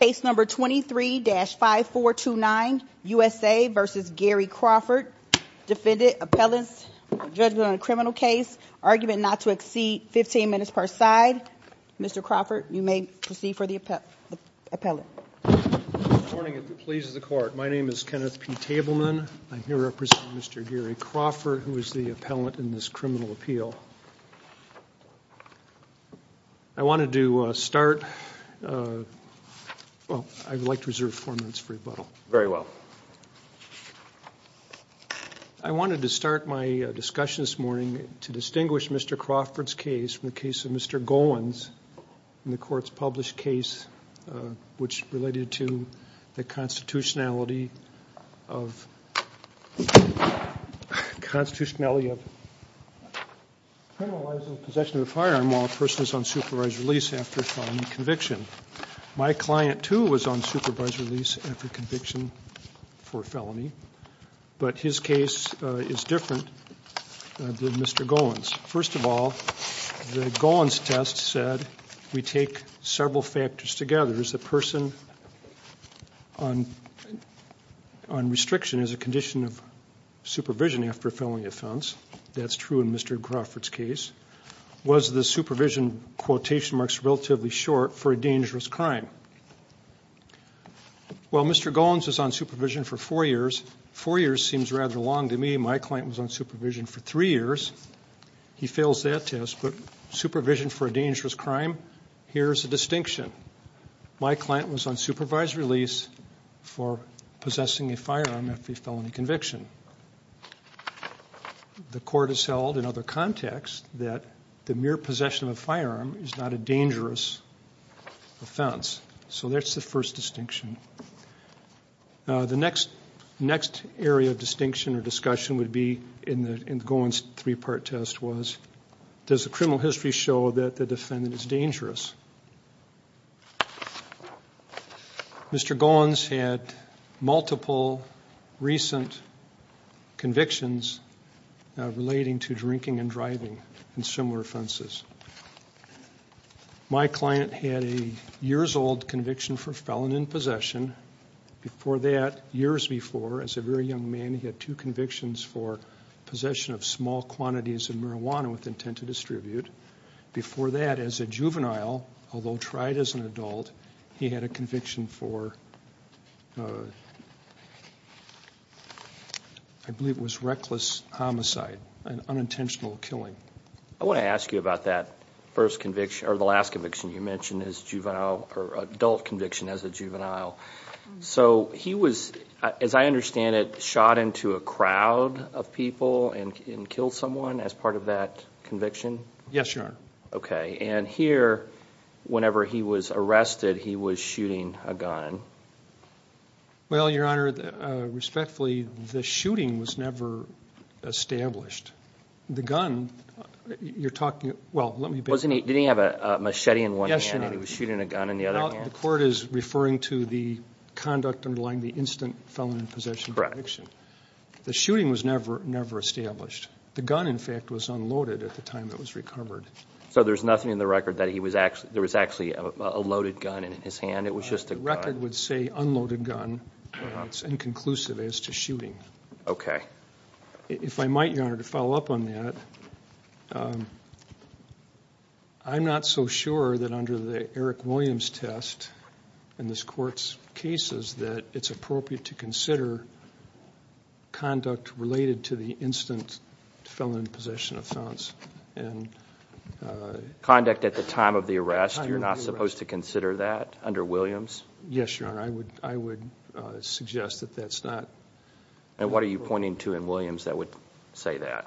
Case number 23-5429, USA v. Gary Crawford. Defendant, appellant, judgment on a criminal case, argument not to exceed 15 minutes per side. Mr. Crawford, you may proceed for the appellant. Good morning. If it pleases the Court, my name is Kenneth P. Tableman. I'm here representing Mr. Gary Crawford, who is the appellant in this criminal appeal. I wanted to start, well, I would like to reserve four minutes for rebuttal. Very well. I wanted to start my discussion this morning to distinguish Mr. Crawford's case from the case of Mr. Goins in the Court's published case, which related to the constitutionality of criminalizing possession of a firearm while a person is on supervised release after a felony conviction. My client, too, was on supervised release after conviction for a felony, but his case is different than Mr. Goins'. First of all, the Goins' test said we take several factors together. Is the person on restriction as a condition of supervision after a felony offense? That's true in Mr. Crawford's case. Was the supervision quotation marks relatively short for a dangerous crime? Well, Mr. Goins was on supervision for four years. Four years seems rather long to me. My client was on supervision for three years. He fails that test, but supervision for a dangerous crime? Here's a distinction. My client was on supervised release for possessing a firearm after a felony conviction. The Court has held in other contexts that the mere possession of a firearm is not a dangerous offense. So that's the first distinction. The next area of distinction or discussion would be in Goins' three-part test was, does the criminal history show that the defendant is dangerous? Mr. Goins had multiple recent convictions relating to drinking and driving and similar offenses. My client had a years-old conviction for felon in possession. Before that, years before, as a very young man, he had two convictions for possession of small quantities of marijuana with intent to distribute. Before that, as a juvenile, although tried as an adult, he had a conviction for, I believe it was reckless homicide, an unintentional killing. I want to ask you about that first conviction, or the last conviction you mentioned as juvenile, or adult conviction as a juvenile. So he was, as I understand it, shot into a crowd of people and killed someone as part of that conviction? Yes, Your Honor. Okay. And here, whenever he was arrested, he was shooting a gun. Well, Your Honor, respectfully, the shooting was never established. The gun, you're talking, well, let me back up. Didn't he have a machete in one hand? Yes, Your Honor. And he was shooting a gun in the other hand? No, the court is referring to the conduct underlying the instant felon in possession conviction. The shooting was never established. The gun, in fact, was unloaded at the time it was recovered. So there's nothing in the record that there was actually a loaded gun in his hand? The record would say unloaded gun, but it's inconclusive as to shooting. Okay. If I might, Your Honor, to follow up on that, I'm not so sure that under the Eric Williams test in this court's cases that it's appropriate to consider conduct related to the instant felon in possession offense. Conduct at the time of the arrest, you're not supposed to consider that under Williams? Yes, Your Honor. I would suggest that that's not appropriate. And what are you pointing to in Williams that would say that?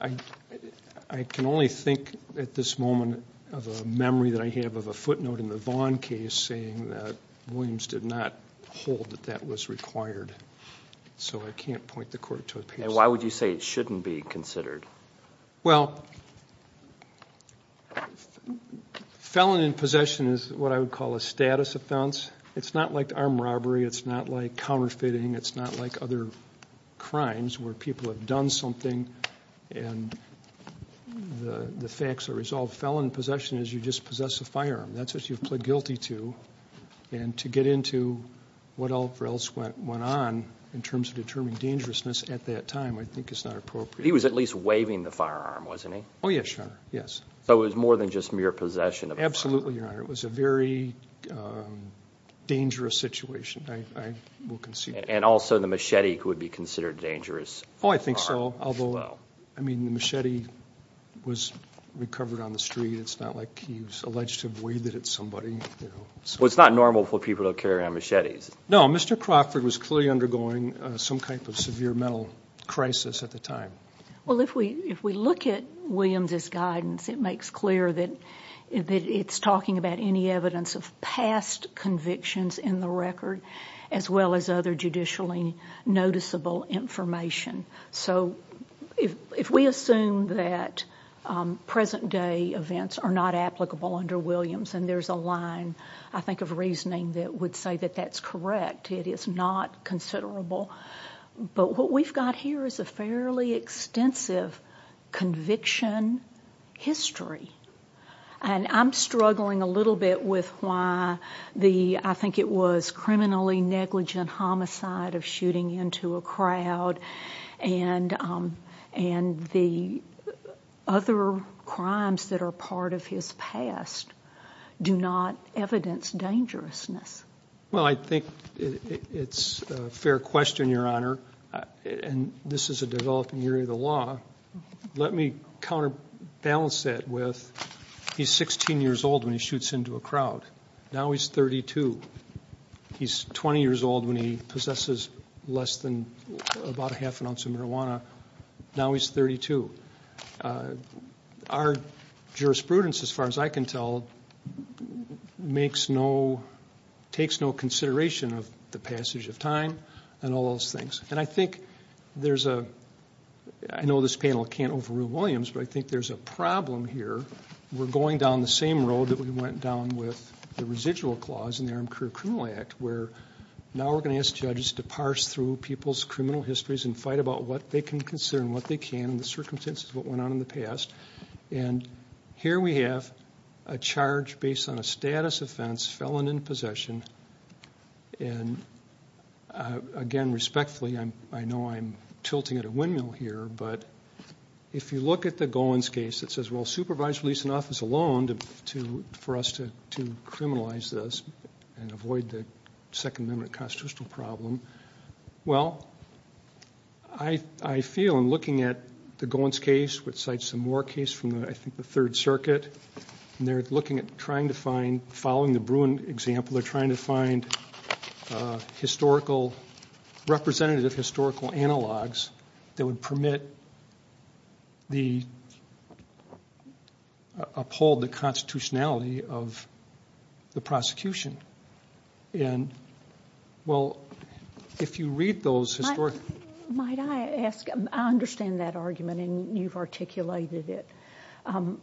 I can only think at this moment of a memory that I have of a footnote in the Vaughn case saying that Williams did not hold that that was required. So I can't point the court to a case like that. And why would you say it shouldn't be considered? Well, felon in possession is what I would call a status offense. It's not like armed robbery. It's not like counterfeiting. It's not like other crimes where people have done something and the facts are resolved. Felon in possession is you just possess a firearm. That's what you've pled guilty to. And to get into what else went on in terms of determining dangerousness at that time, I think it's not appropriate. He was at least waving the firearm, wasn't he? Oh, yes, Your Honor, yes. So it was more than just mere possession of a firearm? Absolutely, Your Honor. It was a very dangerous situation, I will concede. And also the machete would be considered dangerous? Oh, I think so. Although, I mean, the machete was recovered on the street. It's not like he was alleged to have waived it at somebody. Well, it's not normal for people to carry around machetes. No, Mr. Crawford was clearly undergoing some type of severe mental crisis at the time. Well, if we look at Williams' guidance, it makes clear that it's talking about any evidence of past convictions in the record as well as other judicially noticeable information. So if we assume that present-day events are not applicable under Williams and there's a line, I think, of reasoning that would say that that's correct, it is not considerable. But what we've got here is a fairly extensive conviction history. And I'm struggling a little bit with why the, I think it was, criminally negligent homicide of shooting into a crowd and the other crimes that are part of his past do not evidence dangerousness. Well, I think it's a fair question, Your Honor, and this is a developing area of the law. Let me counterbalance that with he's 16 years old when he shoots into a crowd. Now he's 32. He's 20 years old when he possesses less than about a half an ounce of marijuana. Now he's 32. Our jurisprudence, as far as I can tell, takes no consideration of the passage of time and all those things. And I think there's a, I know this panel can't overrule Williams, but I think there's a problem here. We're going down the same road that we went down with the residual clause in the Armed Career Criminal Act where now we're going to ask judges to parse through people's criminal histories and fight about what they can consider and what they can, and the circumstances of what went on in the past. And here we have a charge based on a status offense, felon in possession. And, again, respectfully, I know I'm tilting at a windmill here, but if you look at the Goins case, it says, well, supervised release in office alone for us to criminalize this and avoid the Second Amendment constitutional problem. Well, I feel in looking at the Goins case, which cites the Moore case from, I think, the Third Circuit, and they're looking at trying to find, following the Bruin example, they're trying to find historical, representative historical analogs that would permit the, uphold the constitutionality of the prosecution. And, well, if you read those historic... Might I ask, I understand that argument and you've articulated it. I'm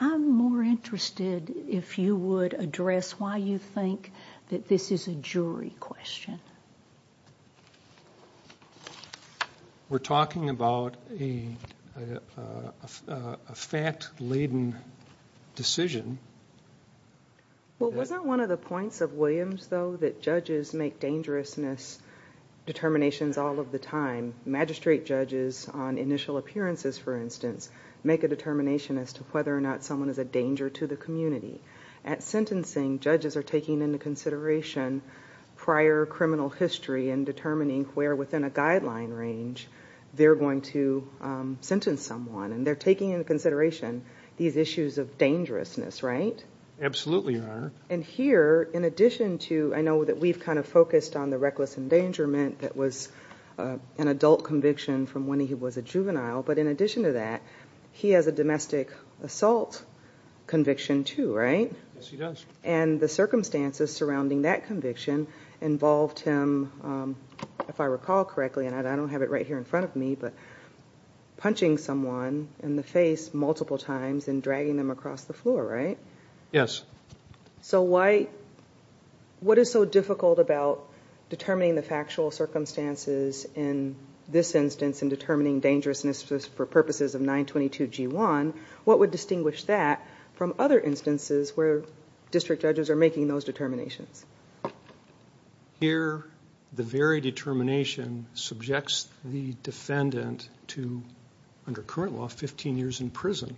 more interested if you would address why you think that this is a jury question. We're talking about a fact-laden decision. Well, wasn't one of the points of Williams, though, that judges make dangerousness determinations all of the time? Magistrate judges on initial appearances, for instance, make a determination as to whether or not someone is a danger to the community. At sentencing, judges are taking into consideration prior criminal history and determining where within a guideline range they're going to sentence someone. And they're taking into consideration these issues of dangerousness, right? Absolutely, Your Honor. And here, in addition to... I know that we've kind of focused on the reckless endangerment that was an adult conviction from when he was a juvenile, but in addition to that, he has a domestic assault conviction too, right? Yes, he does. And the circumstances surrounding that conviction involved him, if I recall correctly, and I don't have it right here in front of me, but punching someone in the face multiple times and dragging them across the floor, right? Yes. So what is so difficult about determining the factual circumstances in this instance and determining dangerousness for purposes of 922G1? What would distinguish that from other instances where district judges are making those determinations? Here, the very determination subjects the defendant to, under current law, 15 years in prison.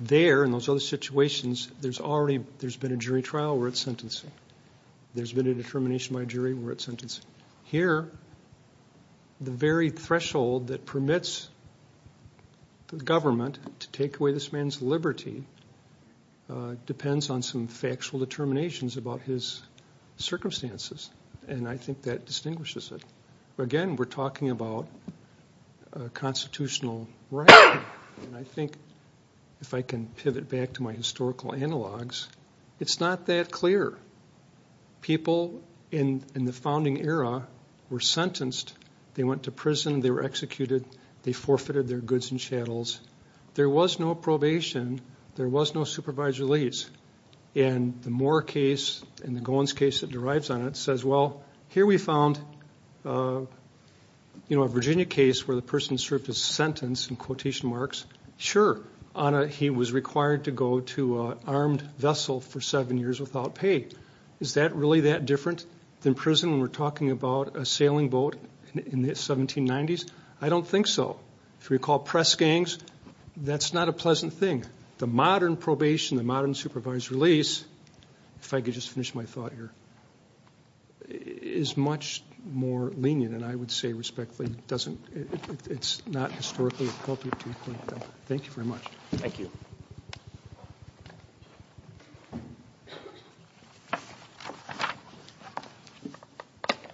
There, in those other situations, there's already been a jury trial where it's sentencing. There's been a determination by a jury where it's sentencing. Here, the very threshold that permits the government to take away this man's liberty depends on some factual determinations about his circumstances, and I think that distinguishes it. Again, we're talking about a constitutional right, and I think if I can pivot back to my historical analogs, it's not that clear. People in the founding era were sentenced. They went to prison. They were executed. They forfeited their goods and chattels. There was no probation. There was no supervisory lease. And the Moore case and the Goins case that derives on it says, well, here we found a Virginia case where the person served his sentence in quotation marks. Sure, he was required to go to an armed vessel for seven years without pay. Is that really that different than prison when we're talking about a sailing boat in the 1790s? I don't think so. If you recall press gangs, that's not a pleasant thing. The modern probation, the modern supervisory lease, if I could just finish my thought here, is much more lenient, and I would say respectfully it's not historically appropriate. Thank you very much. Thank you.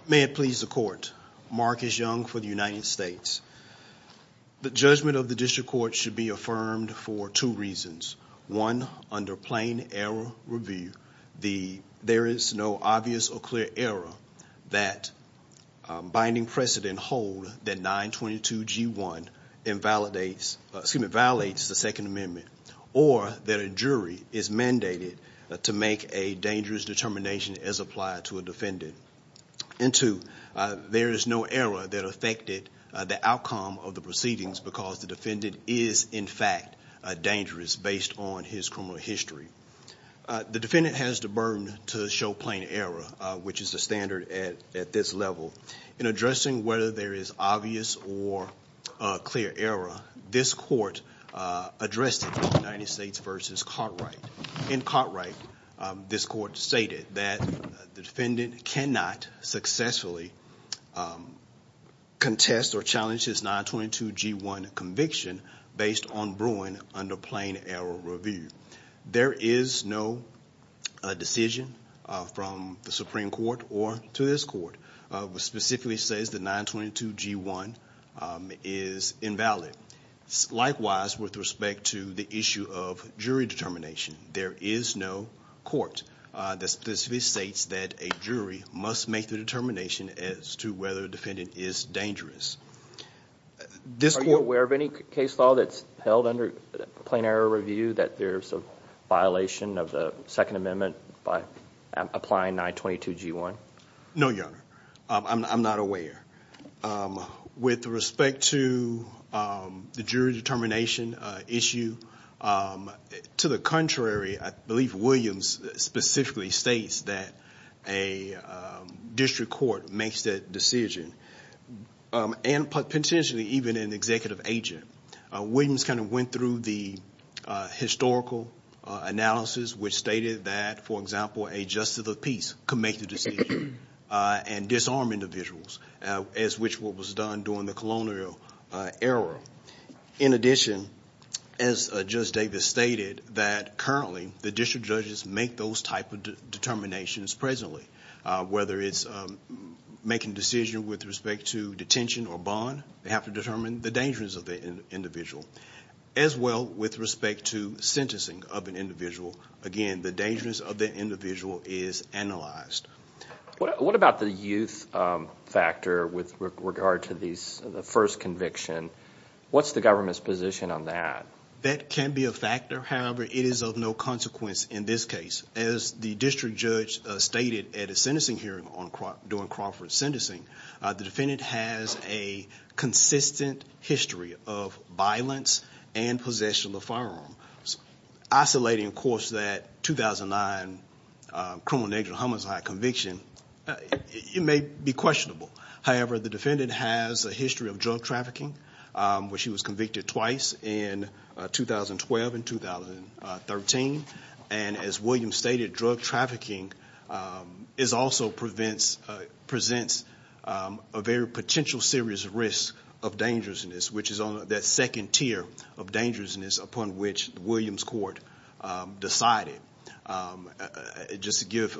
May it please the Court. Mark S. Young for the United States. The judgment of the district court should be affirmed for two reasons. One, under plain error review, there is no obvious or clear error that binding precedent hold that 922G1 violates the Second Amendment or that a jury is mandated to make a dangerous determination as applied to a defendant. And two, there is no error that affected the outcome of the proceedings because the defendant is in fact dangerous based on his criminal history. The defendant has the burden to show plain error, which is the standard at this level. In addressing whether there is obvious or clear error, this court addressed it in United States v. Cartwright. In Cartwright, this court stated that the defendant cannot successfully contest or challenge his 922G1 conviction based on Bruin under plain error review. There is no decision from the Supreme Court or to this court which specifically says that 922G1 is invalid. Likewise, with respect to the issue of jury determination, there is no court that specifically states that a jury must make the determination as to whether the defendant is dangerous. Are you aware of any case law that's held under plain error review that there's a violation of the Second Amendment by applying 922G1? No, Your Honor. I'm not aware. With respect to the jury determination issue, to the contrary, I believe Williams specifically states that a district court makes that decision and potentially even an executive agent. Williams kind of went through the historical analysis which stated that, for example, a justice of peace could make the decision and disarm individuals as which was done during the colonial era. In addition, as Justice Davis stated, that currently the district judges make those type of determinations presently. Whether it's making a decision with respect to detention or bond, they have to determine the dangers of the individual, as well with respect to sentencing of an individual. Again, the dangers of the individual is analyzed. What about the youth factor with regard to the first conviction? What's the government's position on that? That can be a factor. However, it is of no consequence in this case. As the district judge stated at a sentencing hearing during Crawford sentencing, the defendant has a consistent history of violence and possession of firearms. Isolating, of course, that 2009 criminal negligent homicide conviction, it may be questionable. However, the defendant has a history of drug trafficking where she was convicted twice in 2012 and 2013. And as Williams stated, drug trafficking also presents a very potential serious risk of dangerousness, which is that second tier of dangerousness upon which the Williams court decided. Just to give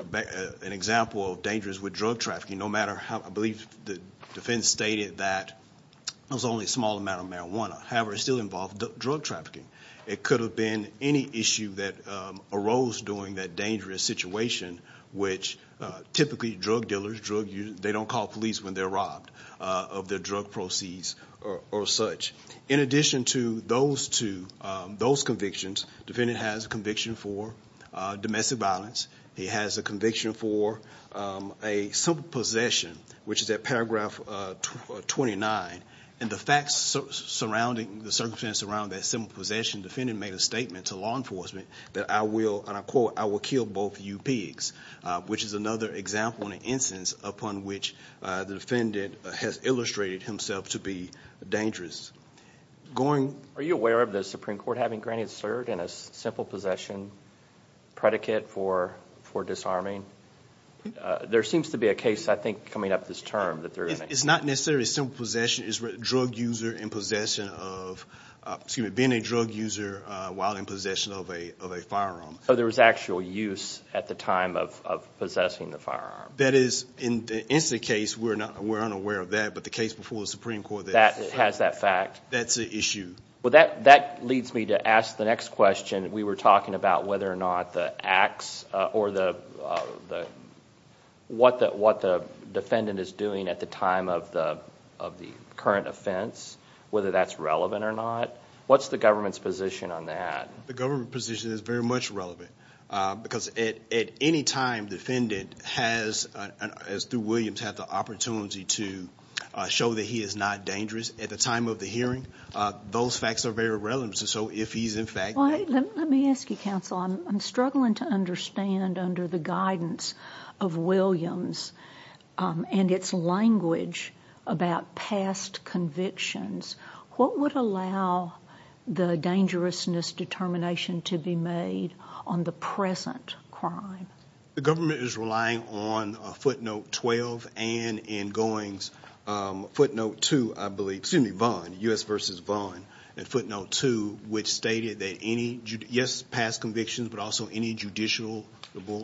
an example of dangers with drug trafficking, I believe the defense stated that it was only a small amount of marijuana. However, it still involved drug trafficking. It could have been any issue that arose during that dangerous situation, which typically drug dealers, they don't call police when they're robbed of their drug proceeds or such. In addition to those two, those convictions, the defendant has a conviction for domestic violence. He has a conviction for a simple possession, which is at paragraph 29. And the facts surrounding, the circumstances surrounding that simple possession, the defendant made a statement to law enforcement that I will, and I quote, I will kill both you pigs, which is another example and instance upon which the defendant has illustrated himself to be dangerous. Are you aware of the Supreme Court having granted cert in a simple possession predicate for disarming? There seems to be a case, I think, coming up this term. It's not necessarily simple possession. It's drug user in possession of, excuse me, being a drug user while in possession of a firearm. So there was actual use at the time of possessing the firearm. That is, in the instant case, we're unaware of that. But the case before the Supreme Court that has that fact. That's an issue. Well, that leads me to ask the next question. We were talking about whether or not the acts or what the defendant is doing at the time of the current offense, whether that's relevant or not. What's the government's position on that? The government position is very much relevant because at any time the defendant has, through Williams, had the opportunity to show that he is not dangerous at the time of the hearing. Those facts are very relevant. So if he's in fact. Let me ask you, counsel, I'm struggling to understand under the guidance of Williams and its language about past convictions, what would allow the dangerousness determination to be made on the present crime? The government is relying on a footnote 12 and in goings footnote to, I believe, excuse me, bond U.S. versus bond and footnote to which stated that any yes, past convictions, but also any judicial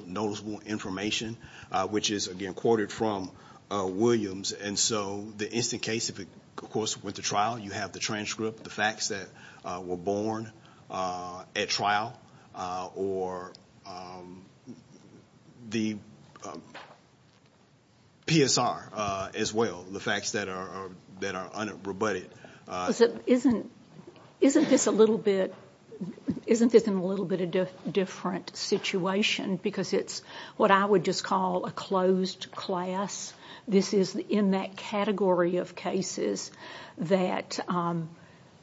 noticeable information, which is again quoted from Williams. And so the instant case, of course, with the trial, you have the transcript, the facts that were born at trial or the PSR as well. The facts that are that are unrebutted. Isn't isn't this a little bit isn't this in a little bit of different situation? Because it's what I would just call a closed class. This is in that category of cases that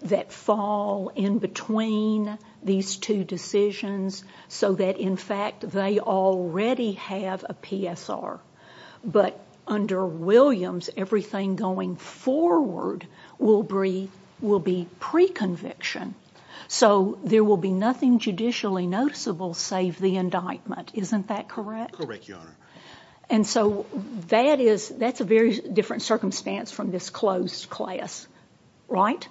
that fall in between these two decisions so that, in fact, they already have a PSR. But under Williams, everything going forward will breathe will be pre conviction. So there will be nothing judicially noticeable save the indictment. Isn't that correct? Correct. And so that is that's a very different circumstance from this closed class. Right.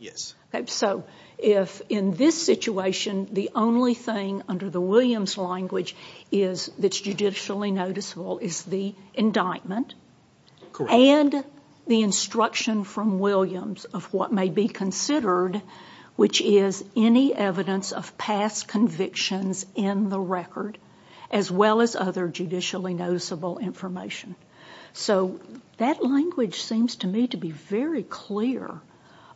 Yes. So if in this situation, the only thing under the Williams language is that's judicially noticeable is the indictment. And the instruction from Williams of what may be considered, which is any evidence of past convictions in the record, as well as other judicially noticeable information. So that language seems to me to be very clear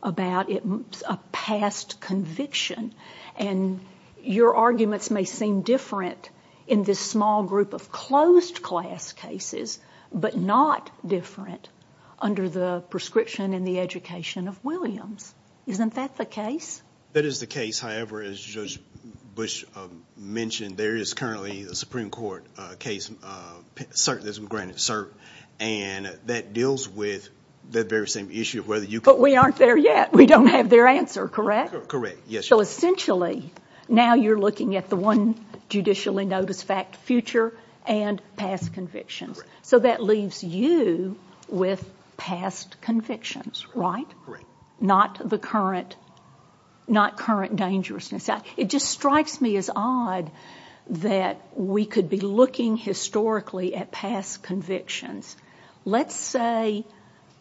about a past conviction. And your arguments may seem different in this small group of closed class cases, but not different under the prescription in the education of Williams. Isn't that the case? That is the case. However, as Judge Bush mentioned, there is currently a Supreme Court case. Certainism granted cert. And that deals with the very same issue of whether you. But we aren't there yet. We don't have their answer. Correct. Correct. Yes. So essentially, now you're looking at the one judicially notice fact future and past convictions. So that leaves you with past convictions. Right. Right. Not current dangerousness. It just strikes me as odd that we could be looking historically at past convictions. Let's say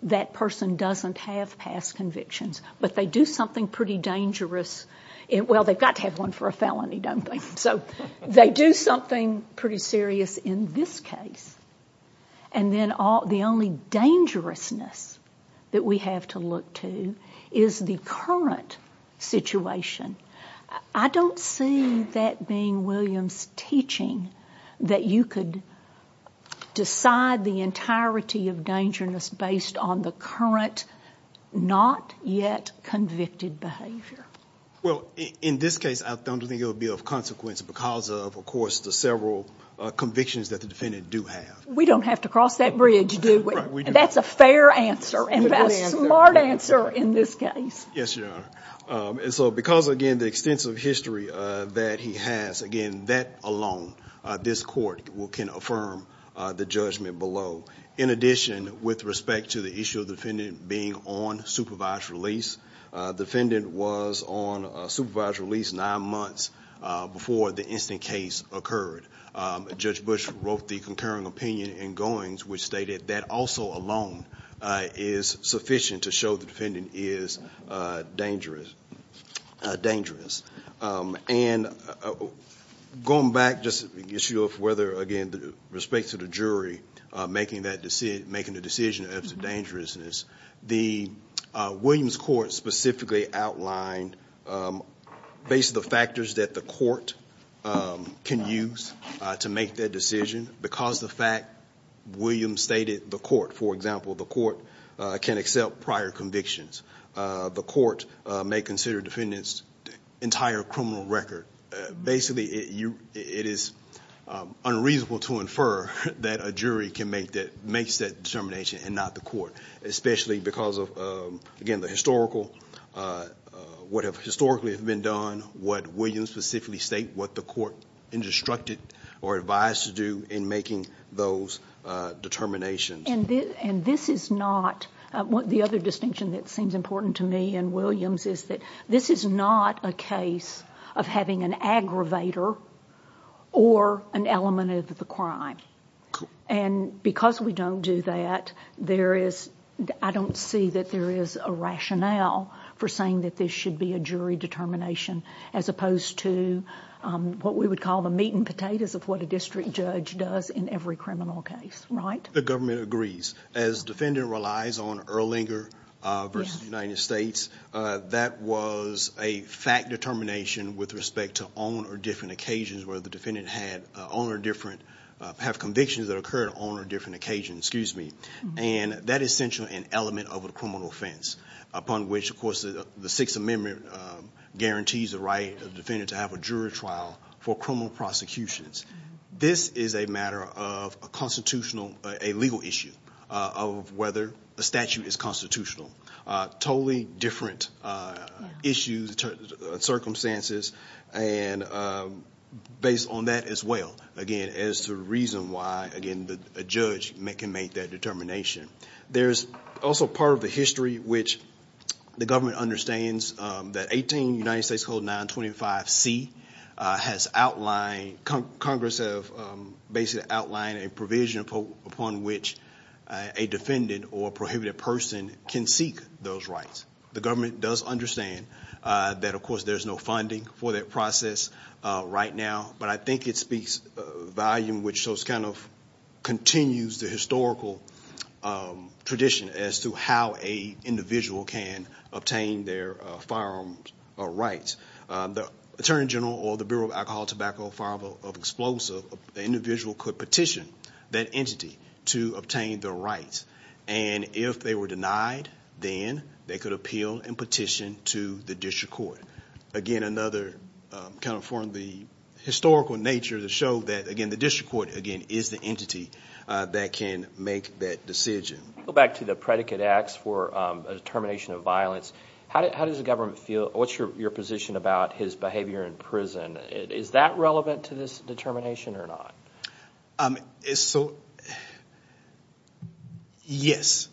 that person doesn't have past convictions, but they do something pretty dangerous. Well, they've got to have one for a felony, don't they? So they do something pretty serious in this case. And then the only dangerousness that we have to look to is the current situation. I don't see that being Williams' teaching that you could decide the entirety of dangerousness based on the current not yet convicted behavior. Well, in this case, I don't think it would be of consequence because of, of course, the several convictions that the defendant do have. We don't have to cross that bridge, do we? That's a fair answer and a smart answer in this case. Yes, Your Honor. And so because, again, the extensive history that he has, again, that alone, this court can affirm the judgment below. In addition, with respect to the issue of the defendant being on supervised release, the defendant was on supervised release nine months before the incident case occurred. Judge Bush wrote the concurring opinion in Goings, which stated that also alone is sufficient to show the defendant is dangerous. And going back just to the issue of whether, again, with respect to the jury making that decision, making the decision as to dangerousness, the Williams court specifically outlined, based on the factors that the court can use to make that decision, because the fact Williams stated the court, for example, the court can accept prior convictions. The court may consider defendants' entire criminal record. Basically, it is unreasonable to infer that a jury can make that, makes that determination and not the court, especially because of, again, the historical, what have historically been done, what Williams specifically state, what the court instructed or advised to do in making those determinations. And this is not, the other distinction that seems important to me in Williams is that this is not a case of having an aggravator or an element of the crime. And because we don't do that, there is, I don't see that there is a rationale for saying that this should be a jury determination, as opposed to what we would call the meat and potatoes of what a district judge does in every criminal case, right? The government agrees. As defendant relies on Erlinger versus the United States, that was a fact determination with respect to on or different occasions where the defendant had on or different, have convictions that occurred on or different occasions, excuse me. And that is essentially an element of a criminal offense, upon which, of course, the Sixth Amendment guarantees the right of the defendant to have a jury trial for criminal prosecutions. This is a matter of a constitutional, a legal issue of whether a statute is constitutional. Totally different issues, circumstances. And based on that as well, again, is the reason why, again, a judge can make that determination. There is also part of the history which the government understands that 18 United States Code 925C has outlined, Congress has basically outlined a provision upon which a defendant or a prohibited person can seek those rights. The government does understand that, of course, there is no funding for that process right now. But I think it speaks a volume which shows kind of continues the historical tradition as to how an individual can obtain their firearms rights. The Attorney General or the Bureau of Alcohol, Tobacco, Firearms or Explosives, the individual could petition that entity to obtain their rights. And if they were denied, then they could appeal and petition to the district court. Again, another kind of form of the historical nature to show that, again, the district court, again, is the entity that can make that decision. Go back to the predicate acts for a determination of violence. How does the government feel? What's your position about his behavior in prison? Is that relevant to this determination or not? So, yes.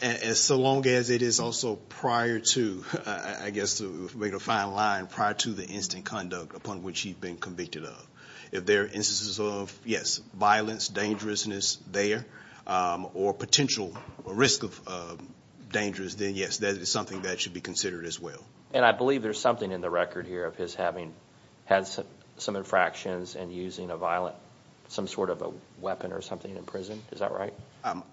As long as it is also prior to, I guess to make a fine line, prior to the instant conduct upon which he'd been convicted of. If there are instances of, yes, violence, dangerousness there or potential risk of dangers, then yes, that is something that should be considered as well. And I believe there's something in the record here of his having had some infractions and using a violent, some sort of a weapon or something in prison, is that right?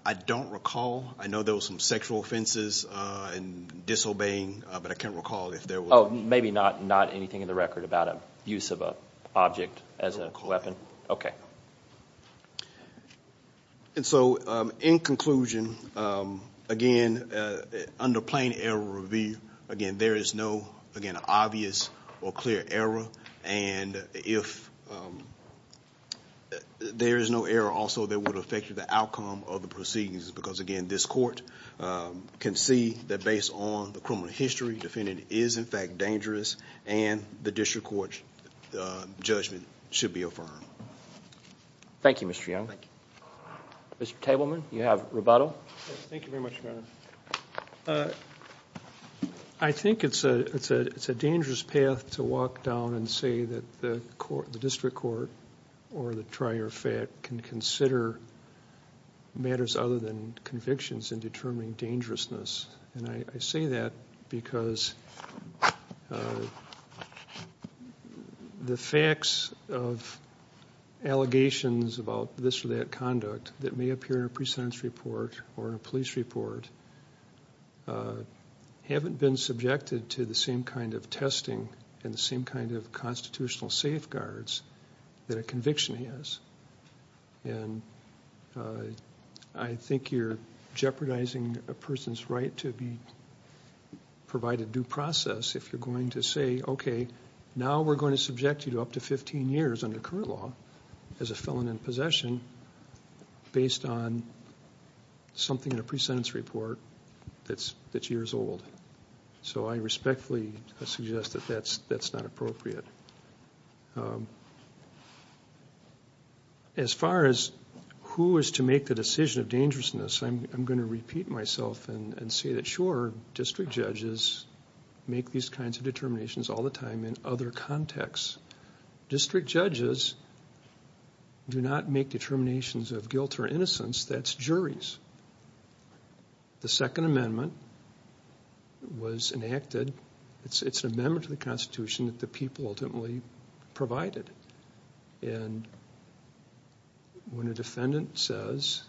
I don't recall. I know there were some sexual offenses and disobeying, but I can't recall if there were. Oh, maybe not anything in the record about a use of an object as a weapon? I don't recall. Okay. And so, in conclusion, again, under plain error review, again, there is no, again, obvious or clear error. And if there is no error also that would affect the outcome of the proceedings, because, again, this court can see that based on the criminal history, the defendant is, in fact, dangerous and the district court's judgment should be affirmed. Thank you, Mr. Young. Mr. Tableman, you have rebuttal. Thank you very much, Your Honor. I think it's a dangerous path to walk down and say that the district court or the trier fed can consider matters other than convictions in determining dangerousness. And I say that because the facts of allegations about this or that conduct that may appear in a pre-sentence report or a police report haven't been subjected to the same kind of testing and the same kind of constitutional safeguards that a conviction has. And I think you're jeopardizing a person's right to provide a due process if you're going to say, okay, now we're going to subject you to up to 15 years under current law as a felon in possession based on something in a pre-sentence report that's years old. So I respectfully suggest that that's not appropriate. As far as who is to make the decision of dangerousness, I'm going to repeat myself and say that, sure, district judges make these kinds of determinations all the time in other contexts. District judges do not make determinations of guilt or innocence. That's juries. The Second Amendment was enacted. It's an amendment to the Constitution that the people ultimately provided. And when a defendant says,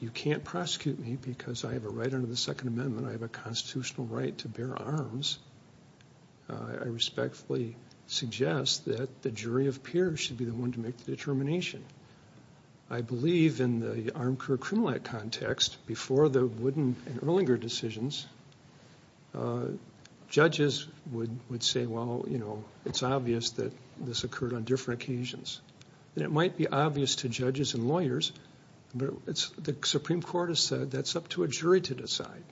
you can't prosecute me because I have a right under the Second Amendment, I have a constitutional right to bear arms, I respectfully suggest that the jury of peers should be the one to make the determination. I believe in the armed career criminal act context, before the Wooden and Erlanger decisions, judges would say, well, you know, it's obvious that this occurred on different occasions. And it might be obvious to judges and lawyers, but the Supreme Court has said that's up to a jury to decide.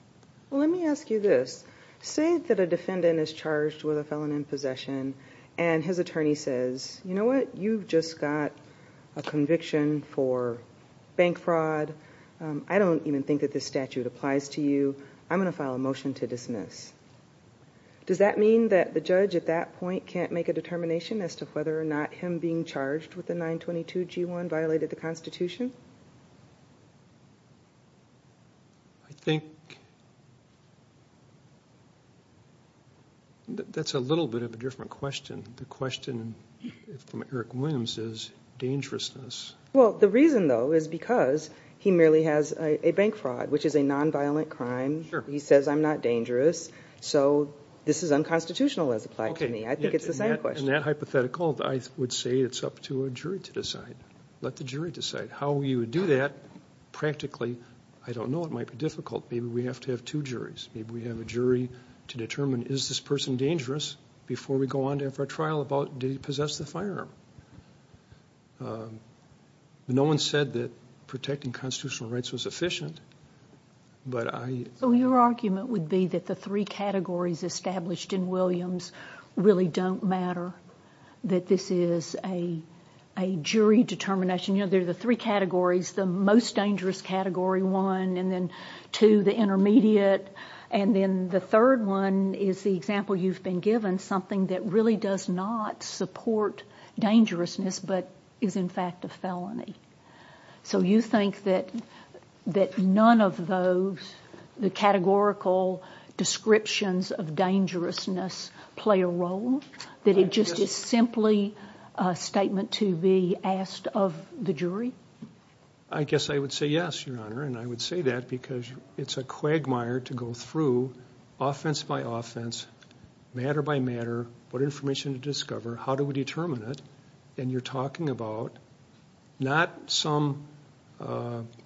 Well, let me ask you this. Say that a defendant is charged with a felon in possession and his attorney says, you know what, you've just got a conviction for bank fraud. I don't even think that this statute applies to you. I'm going to file a motion to dismiss. Does that mean that the judge at that point can't make a determination as to whether or not him being charged with the 922G1 violated the Constitution? I think that's a little bit of a different question. The question from Eric Williams is dangerousness. Well, the reason, though, is because he merely has a bank fraud, which is a nonviolent crime. He says I'm not dangerous. So this is unconstitutional as applied to me. I think it's the same question. In that hypothetical, I would say it's up to a jury to decide. Let the jury decide. How you would do that practically, I don't know. It might be difficult. Maybe we have to have two juries. Maybe we have a jury to determine is this person dangerous before we go on to have our trial about did he possess the firearm. No one said that protecting constitutional rights was efficient. Your argument would be that the three categories established in Williams really don't matter, that this is a jury determination. There are the three categories, the most dangerous category, one, and then two, the intermediate, and then the third one is the example you've been given, something that really does not support dangerousness but is in fact a felony. So you think that none of those, the categorical descriptions of dangerousness, play a role, that it just is simply a statement to be asked of the jury? I guess I would say yes, Your Honor, and I would say that because it's a quagmire to go through, offense by offense, matter by matter, what information to discover, how do we determine it, and you're talking about not some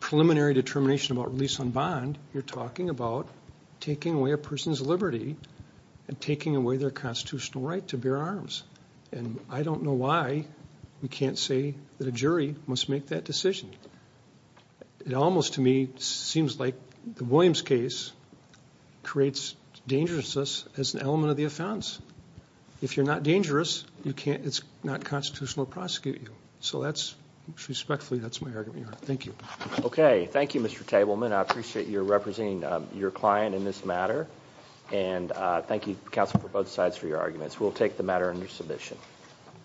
preliminary determination about release on bond, you're talking about taking away a person's liberty and taking away their constitutional right to bear arms, and I don't know why we can't say that a jury must make that decision. It almost to me seems like the Williams case creates dangerousness as an element of the offense. If you're not dangerous, it's not constitutional to prosecute you. So respectfully, that's my argument, Your Honor. Thank you. Okay. Thank you, Mr. Tableman. I appreciate your representing your client in this matter, and thank you, counsel, for both sides for your arguments. We'll take the matter under submission.